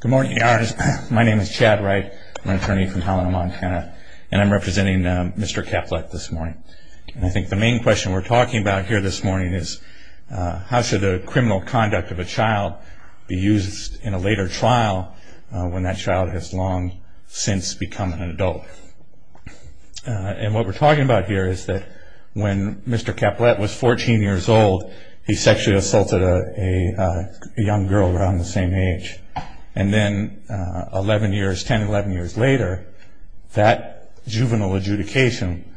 Good morning. My name is Chad Wright. I'm an attorney from Helena, Montana, and I'm representing Mr. Caplette this morning. I think the main question we're talking about here this morning is how should the criminal conduct of a child be used in a later trial when that child has long since become an adult. And what we're talking about here is that when Mr. Caplette was 14 years old, he sexually assaulted a young girl around the same age. And then 10, 11 years later, that juvenile adjudication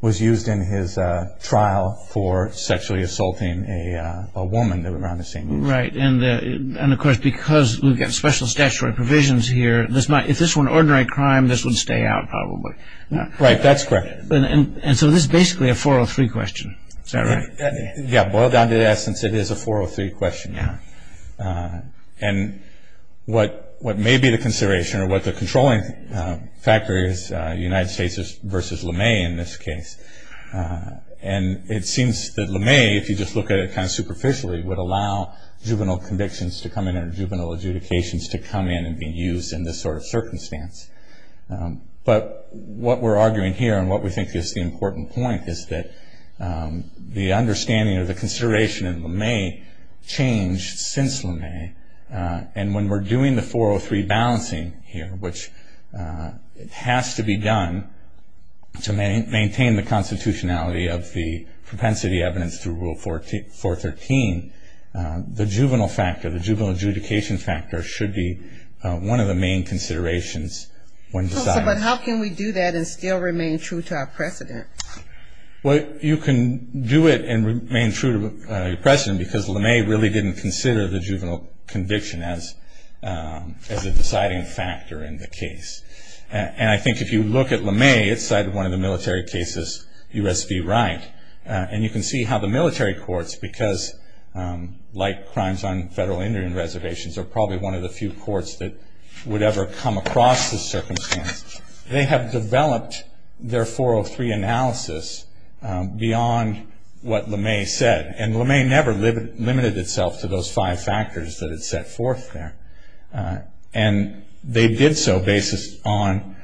was used in his trial for sexually assaulting a woman around the same age. Right. And of course because we've got special statutory provisions here, if this were an ordinary crime, this would stay out probably. Right. That's correct. And so this is basically a 403 question. Is that right? Yeah. Boiled down to the essence, it is a 403 question. Yeah. And what may be the consideration or what the controlling factor is, United States versus LeMay in this case. And it seems that LeMay, if you just look at it kind of superficially, would allow juvenile convictions to come in or juvenile adjudications to come in and be used in this sort of circumstance. But what we're arguing here and what we think is the important point is that the understanding or the consideration of LeMay changed since LeMay. And when we're doing the 403 balancing here, which has to be done to maintain the constitutionality of the propensity evidence through Rule 413, the juvenile factor, the juvenile adjudication factor should be one of the main considerations when deciding. But how can we do that and still remain true to our precedent? Well, you can do it and remain true to your precedent, because LeMay really didn't consider the juvenile conviction as a deciding factor in the case. And I think if you look at LeMay, it cited one of the military cases, U.S. v. Wright. And you can see how the military courts, because like crimes on federal Indian reservations are probably one of the few courts that would ever come across this circumstance, they have developed their 403 analysis beyond what LeMay said. And LeMay never limited itself to those five factors that it set forth there. And they did so based on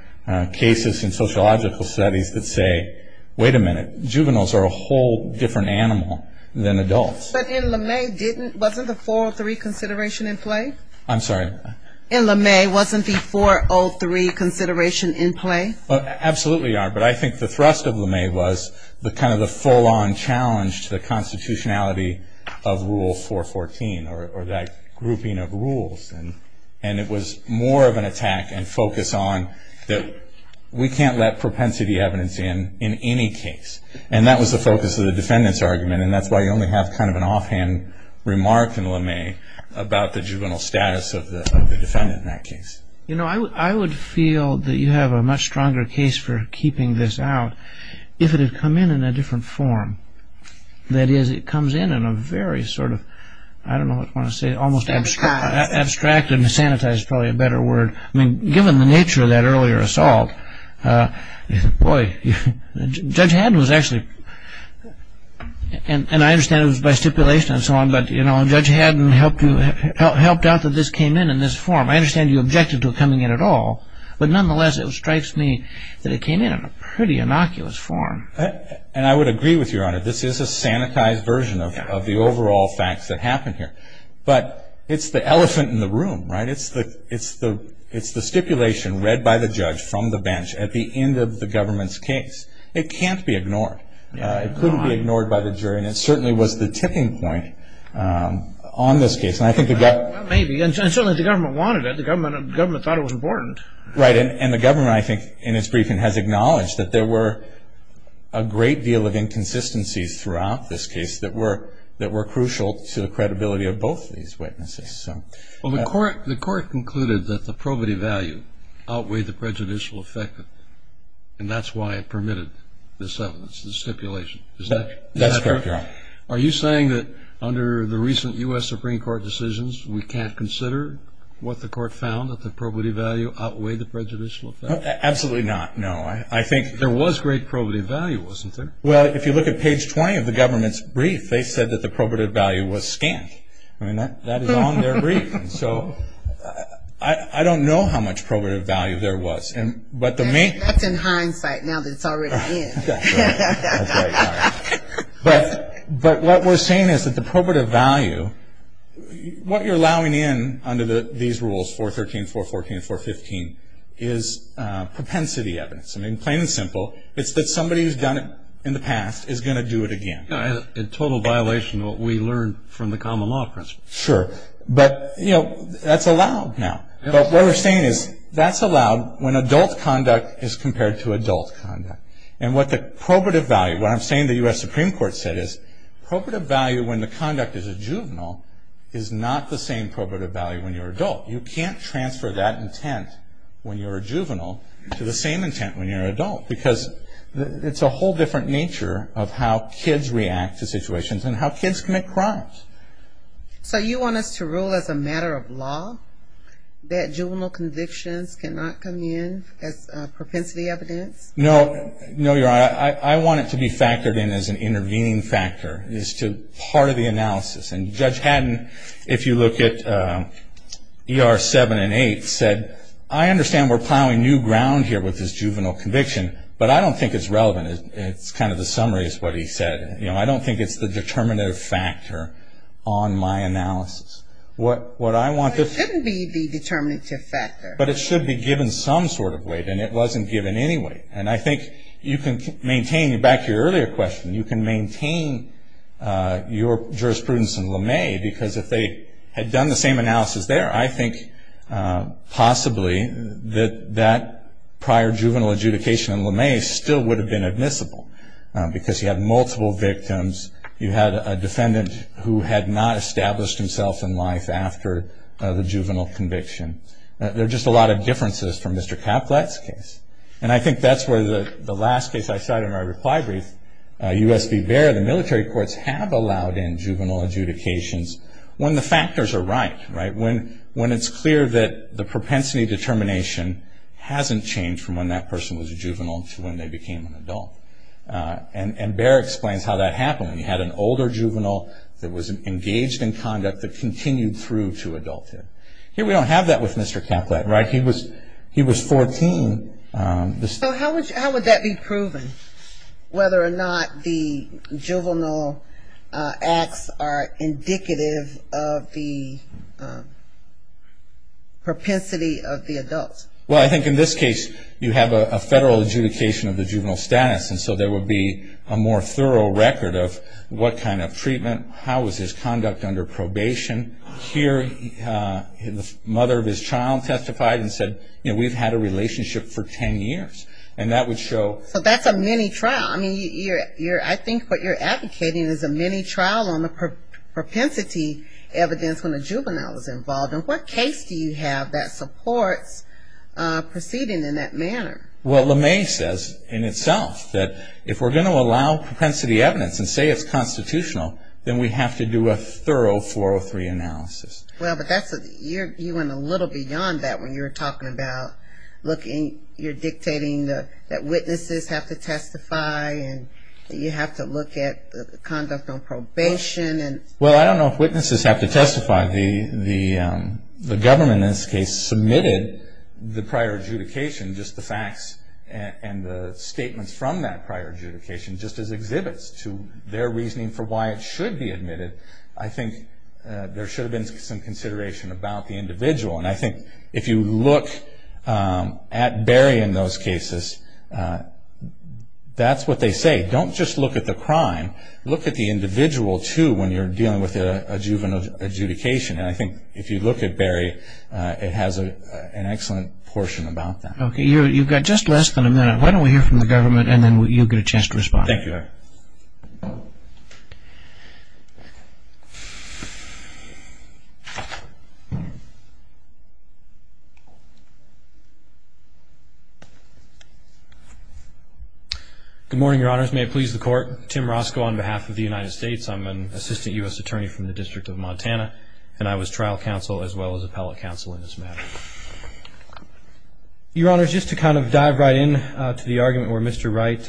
cases in sociological studies that say, wait a minute, juveniles are a whole different animal than adults. But in LeMay, wasn't the 403 consideration in play? I'm sorry? In LeMay, wasn't the 403 consideration in play? Absolutely are. But I think the thrust of LeMay was kind of the full-on challenge to the constitutionality of Rule 414 or that grouping of rules. And it was more of an attack and focus on that we can't let propensity evidence in in any case. And that was the focus of the defendant's argument. And that's why you only have kind of an offhand remark in LeMay about the juvenile status of the defendant in that case. You know, I would feel that you have a much stronger case for keeping this out if it had come in in a different form. That is, it comes in in a very sort of, I don't know what you want to say, almost abstracted and sanitized is probably a better word. I mean, given the nature of that earlier assault, boy, Judge Haddon was actually, and I understand it was by stipulation and so on, but Judge Haddon helped out that this came in in this form. I understand you objected to it coming in at all. But nonetheless, it strikes me that it came in in a pretty innocuous form. And I would agree with you, Your Honor. This is a sanitized version of the overall facts that happened here. But it's the elephant in the room, right? It's the stipulation read by the judge from the bench at the end of the government's case. It can't be ignored. It couldn't be ignored by the jury. And it certainly was the tipping point on this case. Well, maybe. And certainly the government wanted it. The government thought it was important. Right. And the government, I think, in its briefing, has acknowledged that there were a great deal of inconsistencies throughout this case that were crucial to the credibility of both these witnesses. Well, the court concluded that the probity value outweighed the prejudicial effect, and that's why it permitted this evidence, this stipulation. Is that correct? That's correct, Your Honor. Are you saying that under the recent U.S. Supreme Court decisions, we can't consider what the court found, that the probity value outweighed the prejudicial effect? Absolutely not, no. I think there was great probity value, wasn't there? Well, if you look at page 20 of the government's brief, they said that the probity value was scant. I mean, that is on their brief. So I don't know how much probity value there was. That's in hindsight now that it's already in. That's right, Your Honor. But what we're saying is that the probity value, what you're allowing in under these rules, 413, 414, 415, is propensity evidence. I mean, plain and simple. It's that somebody who's done it in the past is going to do it again. In total violation of what we learned from the common law principle. Sure. But, you know, that's allowed now. But what we're saying is that's allowed when adult conduct is compared to adult conduct. And what the probity value, what I'm saying the U.S. Supreme Court said, is probity value when the conduct is a juvenile is not the same probity value when you're an adult. You can't transfer that intent when you're a juvenile to the same intent when you're an adult because it's a whole different nature of how kids react to situations and how kids commit crimes. So you want us to rule as a matter of law that juvenile convictions cannot come in as propensity evidence? No, Your Honor. I want it to be factored in as an intervening factor, as part of the analysis. And Judge Haddon, if you look at ER 7 and 8, said, I understand we're plowing new ground here with this juvenile conviction, but I don't think it's relevant. It's kind of the summary is what he said. You know, I don't think it's the determinative factor on my analysis. What I want to- It shouldn't be the determinative factor. But it should be given some sort of weight, and it wasn't given any weight. And I think you can maintain, back to your earlier question, you can maintain your jurisprudence in LeMay because if they had done the same analysis there, I think possibly that that prior juvenile adjudication in LeMay still would have been admissible because you had multiple victims. You had a defendant who had not established himself in life after the juvenile conviction. There are just a lot of differences from Mr. Caplet's case. And I think that's where the last case I cited in my reply brief, U.S. v. Baird, the military courts have allowed in juvenile adjudications when the factors are right, right? When it's clear that the propensity determination hasn't changed from when that person was a juvenile to when they became an adult. And Baird explains how that happened. He had an older juvenile that was engaged in conduct that continued through to adulthood. Here we don't have that with Mr. Caplet, right? He was 14. So how would that be proven, whether or not the juvenile acts are indicative of the propensity of the adult? Well, I think in this case you have a federal adjudication of the juvenile status, and so there would be a more thorough record of what kind of treatment, how was his conduct under probation. Here the mother of his child testified and said, you know, we've had a relationship for 10 years. And that would show. So that's a mini-trial. I mean, I think what you're advocating is a mini-trial on the propensity evidence when a juvenile is involved. And what case do you have that supports proceeding in that manner? Well, LeMay says in itself that if we're going to allow propensity evidence and say it's constitutional, then we have to do a thorough 403 analysis. Well, but you went a little beyond that when you were talking about you're dictating that witnesses have to testify and you have to look at the conduct on probation. Well, I don't know if witnesses have to testify. The government in this case submitted the prior adjudication, just the facts and the statements from that prior adjudication, just as exhibits to their reasoning for why it should be admitted. I think there should have been some consideration about the individual. And I think if you look at Barry in those cases, that's what they say. Don't just look at the crime. Look at the individual too when you're dealing with an adjudication. And I think if you look at Barry, it has an excellent portion about that. Okay. You've got just less than a minute. Why don't we hear from the government and then you'll get a chance to respond. Thank you, Your Honor. Good morning, Your Honors. May it please the Court. Tim Roscoe on behalf of the United States. I'm an assistant U.S. attorney from the District of Montana, and I was trial counsel as well as appellate counsel in this matter. Your Honors, just to kind of dive right in to the argument where Mr. Wright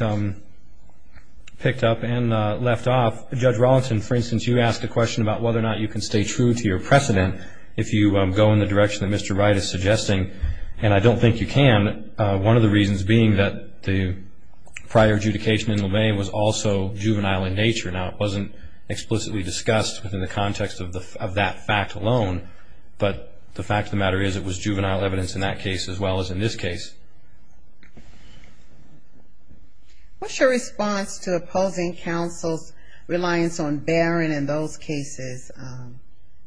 picked up and left off, Judge Rawlinson, for instance, you asked a question about whether or not you can stay true to your precedent if you go in the direction that Mr. Wright is suggesting. And I don't think you can, one of the reasons being that the prior adjudication in Lemay was also juvenile in nature. Now, it wasn't explicitly discussed within the context of that fact alone, but the fact of the matter is it was juvenile evidence in that case as well as in this case. What's your response to opposing counsel's reliance on bearing in those cases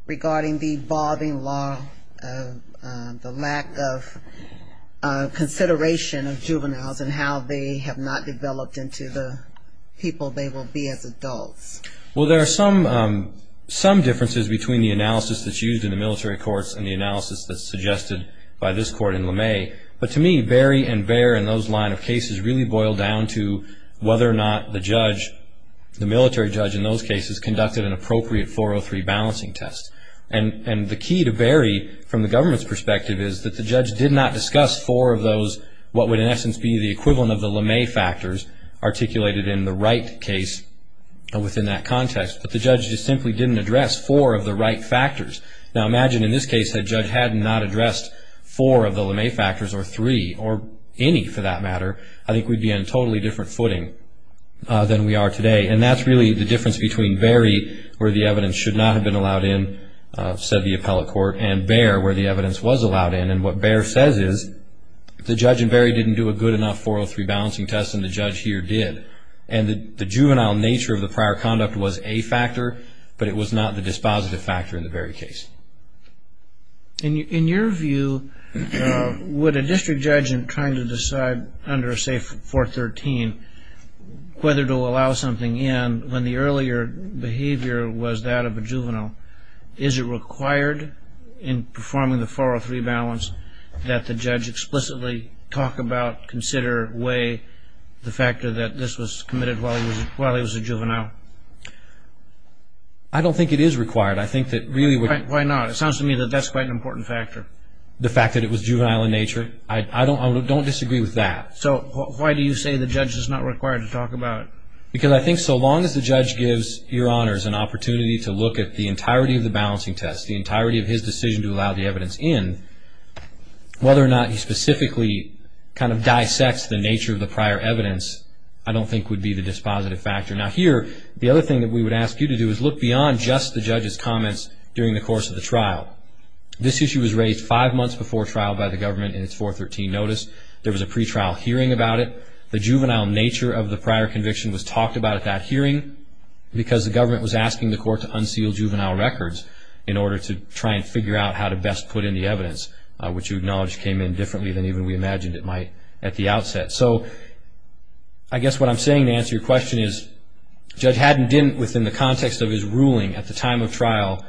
regarding the evolving law, the lack of consideration of juveniles and how they have not developed into the people they will be as adults? Well, there are some differences between the analysis that's used in the military courts and the analysis that's suggested by this court in Lemay. But to me, bury and bear in those line of cases really boil down to whether or not the judge, the military judge in those cases, conducted an appropriate 403 balancing test. And the key to bury from the government's perspective is that the judge did not discuss four of those, what would in essence be the equivalent of the Lemay factors articulated in the Wright case within that context. But the judge just simply didn't address four of the Wright factors. Now, imagine in this case the judge had not addressed four of the Lemay factors or three or any for that matter. I think we'd be on a totally different footing than we are today. And that's really the difference between bury where the evidence should not have been allowed in, said the appellate court, and bear where the evidence was allowed in. And what bear says is the judge in bury didn't do a good enough 403 balancing test and the judge here did. And the juvenile nature of the prior conduct was a factor, but it was not the dispositive factor in the bury case. In your view, would a district judge in trying to decide under, say, 413, whether to allow something in when the earlier behavior was that of a juvenile, is it required in performing the 403 balance that the judge explicitly talk about, consider, weigh the factor that this was committed while he was a juvenile? I don't think it is required. I think that really would be. Why not? It sounds to me that that's quite an important factor. The fact that it was juvenile in nature? I don't disagree with that. So why do you say the judge is not required to talk about it? Because I think so long as the judge gives Your Honors an opportunity to look at the entirety of the balancing test, the entirety of his decision to allow the evidence in, whether or not he specifically kind of dissects the nature of the prior evidence, I don't think would be the dispositive factor. Now here, the other thing that we would ask you to do is look beyond just the judge's comments during the course of the trial. This issue was raised five months before trial by the government in its 413 notice. There was a pretrial hearing about it. The government was asking the court to unseal juvenile records in order to try and figure out how to best put in the evidence, which you acknowledge came in differently than even we imagined it might at the outset. So I guess what I'm saying to answer your question is Judge Haddon didn't, within the context of his ruling at the time of trial,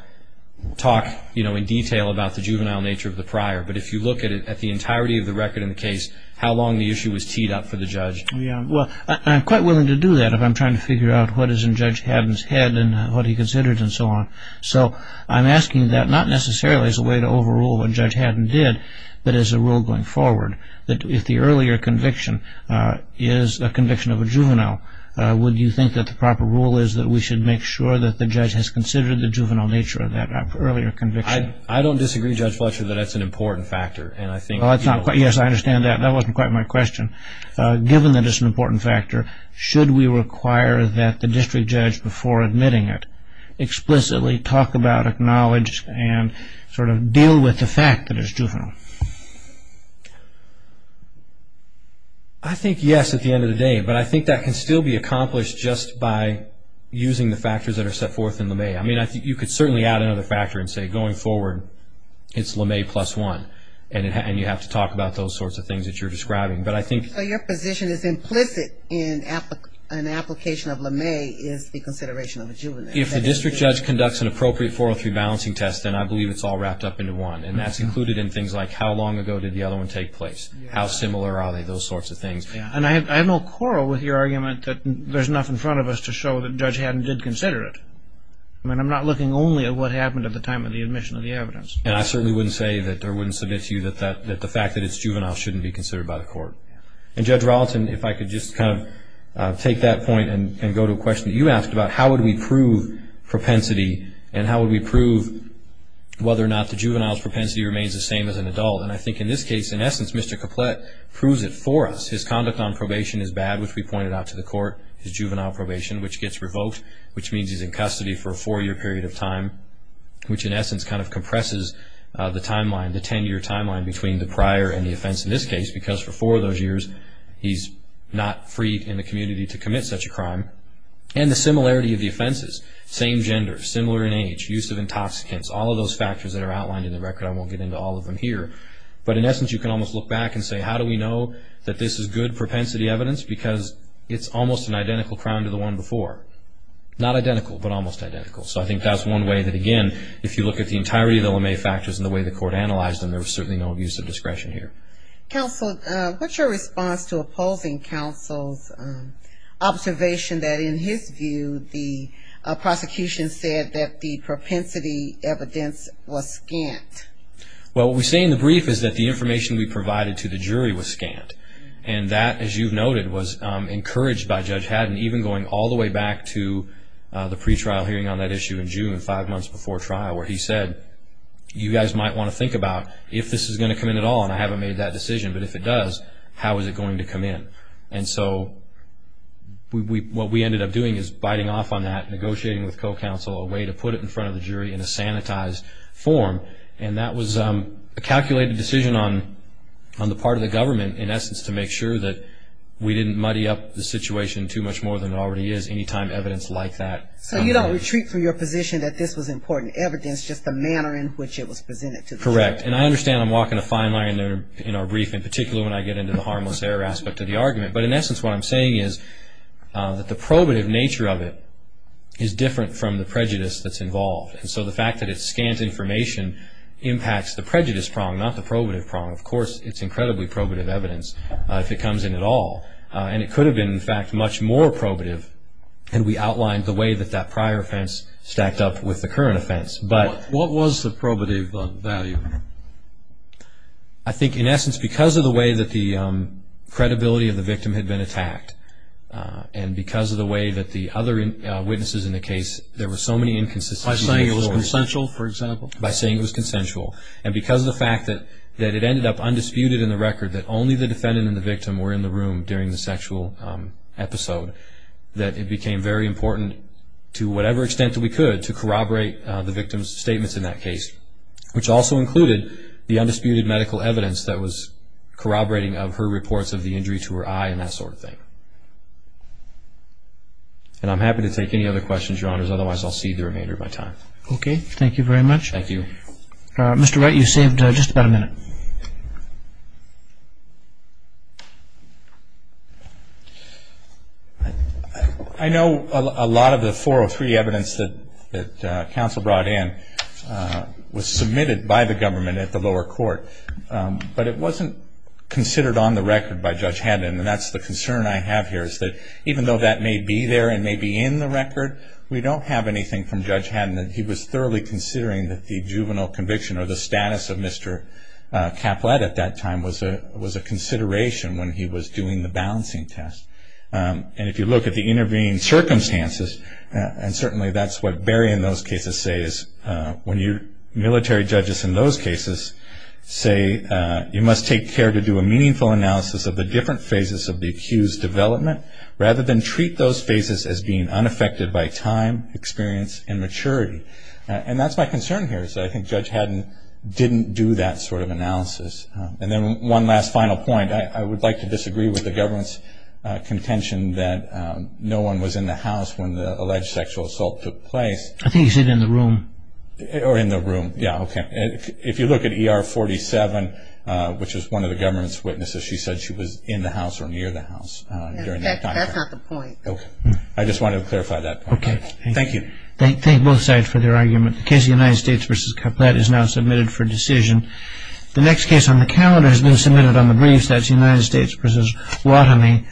talk in detail about the juvenile nature of the prior. But if you look at the entirety of the record in the case, how long the issue was teed up for the judge? Well, I'm quite willing to do that if I'm trying to figure out what is in Judge Haddon's head and what he considered and so on. So I'm asking that not necessarily as a way to overrule what Judge Haddon did, but as a rule going forward, that if the earlier conviction is a conviction of a juvenile, would you think that the proper rule is that we should make sure that the judge has considered the juvenile nature of that earlier conviction? I don't disagree, Judge Fletcher, that that's an important factor. Yes, I understand that. That wasn't quite my question. Given that it's an important factor, should we require that the district judge, before admitting it, explicitly talk about, acknowledge, and sort of deal with the fact that it's juvenile? I think yes, at the end of the day. But I think that can still be accomplished just by using the factors that are set forth in LeMay. I mean, you could certainly add another factor and say, going forward, it's LeMay plus one, and you have to talk about those sorts of things that you're describing. So your position is implicit in an application of LeMay is the consideration of a juvenile. If the district judge conducts an appropriate 403 balancing test, then I believe it's all wrapped up into one, and that's included in things like how long ago did the other one take place, how similar are they, those sorts of things. And I have no quarrel with your argument that there's enough in front of us to show that Judge Haddon did consider it. I mean, I'm not looking only at what happened at the time of the admission of the evidence. And I certainly wouldn't say or wouldn't submit to you that the fact that it's juvenile shouldn't be considered by the court. And, Judge Rawlton, if I could just kind of take that point and go to a question that you asked about, how would we prove propensity and how would we prove whether or not the juvenile's propensity remains the same as an adult? And I think in this case, in essence, Mr. Caplet proves it for us. His conduct on probation is bad, which we pointed out to the court, his juvenile probation, which gets revoked, which means he's in custody for a four-year period of time, which in essence kind of compresses the timeline, the 10-year timeline between the prior and the offense in this case, because for four of those years he's not free in the community to commit such a crime. And the similarity of the offenses, same gender, similar in age, use of intoxicants, all of those factors that are outlined in the record, I won't get into all of them here. But in essence, you can almost look back and say, how do we know that this is good propensity evidence? Because it's almost an identical crime to the one before. Not identical, but almost identical. So I think that's one way that, again, if you look at the entirety of the LeMay factors and the way the court analyzed them, there was certainly no abuse of discretion here. Counsel, what's your response to opposing counsel's observation that in his view the prosecution said that the propensity evidence was scant? Well, what we say in the brief is that the information we provided to the jury was scant. And that, as you've noted, was encouraged by Judge Haddon, even going all the way back to the pretrial hearing on that issue in June, five months before trial, where he said, you guys might want to think about if this is going to come in at all, and I haven't made that decision, but if it does, how is it going to come in? And so what we ended up doing is biting off on that, negotiating with co-counsel a way to put it in front of the jury in a sanitized form, and that was a calculated decision on the part of the government, in essence, to make sure that we didn't muddy up the situation too much more than it already is any time evidence like that. So you don't retreat from your position that this was important evidence, just the manner in which it was presented to the jury? Correct. And I understand I'm walking a fine line in our brief, in particular when I get into the harmless error aspect of the argument. But in essence, what I'm saying is that the probative nature of it is different from the prejudice that's involved. And so the fact that it scans information impacts the prejudice prong, not the probative prong. Of course, it's incredibly probative evidence if it comes in at all. And it could have been, in fact, much more probative had we outlined the way that that prior offense stacked up with the current offense. What was the probative value? I think, in essence, because of the way that the credibility of the victim had been attacked and because of the way that the other witnesses in the case, there were so many inconsistencies. By saying it was consensual, for example? By saying it was consensual. And because of the fact that it ended up undisputed in the record, that only the defendant and the victim were in the room during the sexual episode, that it became very important, to whatever extent that we could, to corroborate the victim's statements in that case, which also included the undisputed medical evidence that was corroborating of her reports of the injury to her eye and that sort of thing. And I'm happy to take any other questions, Your Honors. Otherwise, I'll cede the remainder of my time. Okay. Thank you very much. Thank you. Mr. Wright, you saved just about a minute. I know a lot of the 403 evidence that counsel brought in was submitted by the government at the lower court, but it wasn't considered on the record by Judge Haddon, and that's the concern I have here, is that even though that may be there and may be in the record, we don't have anything from Judge Haddon that he was thoroughly considering that the juvenile conviction or the status of Mr. Caplet at that time was a consideration when he was doing the balancing test. And if you look at the intervening circumstances, and certainly that's what Barry in those cases says, when your military judges in those cases say, you must take care to do a meaningful analysis of the different phases of the accused development rather than treat those phases as being unaffected by time, experience, and maturity. And that's my concern here, is that I think Judge Haddon didn't do that sort of analysis. And then one last final point, I would like to disagree with the government's contention that no one was in the house when the alleged sexual assault took place. I think he said in the room. Or in the room, yeah, okay. If you look at ER 47, which is one of the government's witnesses, she said she was in the house or near the house during that time. That's not the point. Okay, I just wanted to clarify that point. Okay, thank you. Thank you. Thank both sides for their argument. The case of the United States v. Caplet is now submitted for decision. The next case on the calendar has been submitted on the briefs. That's the United States v. Waterman.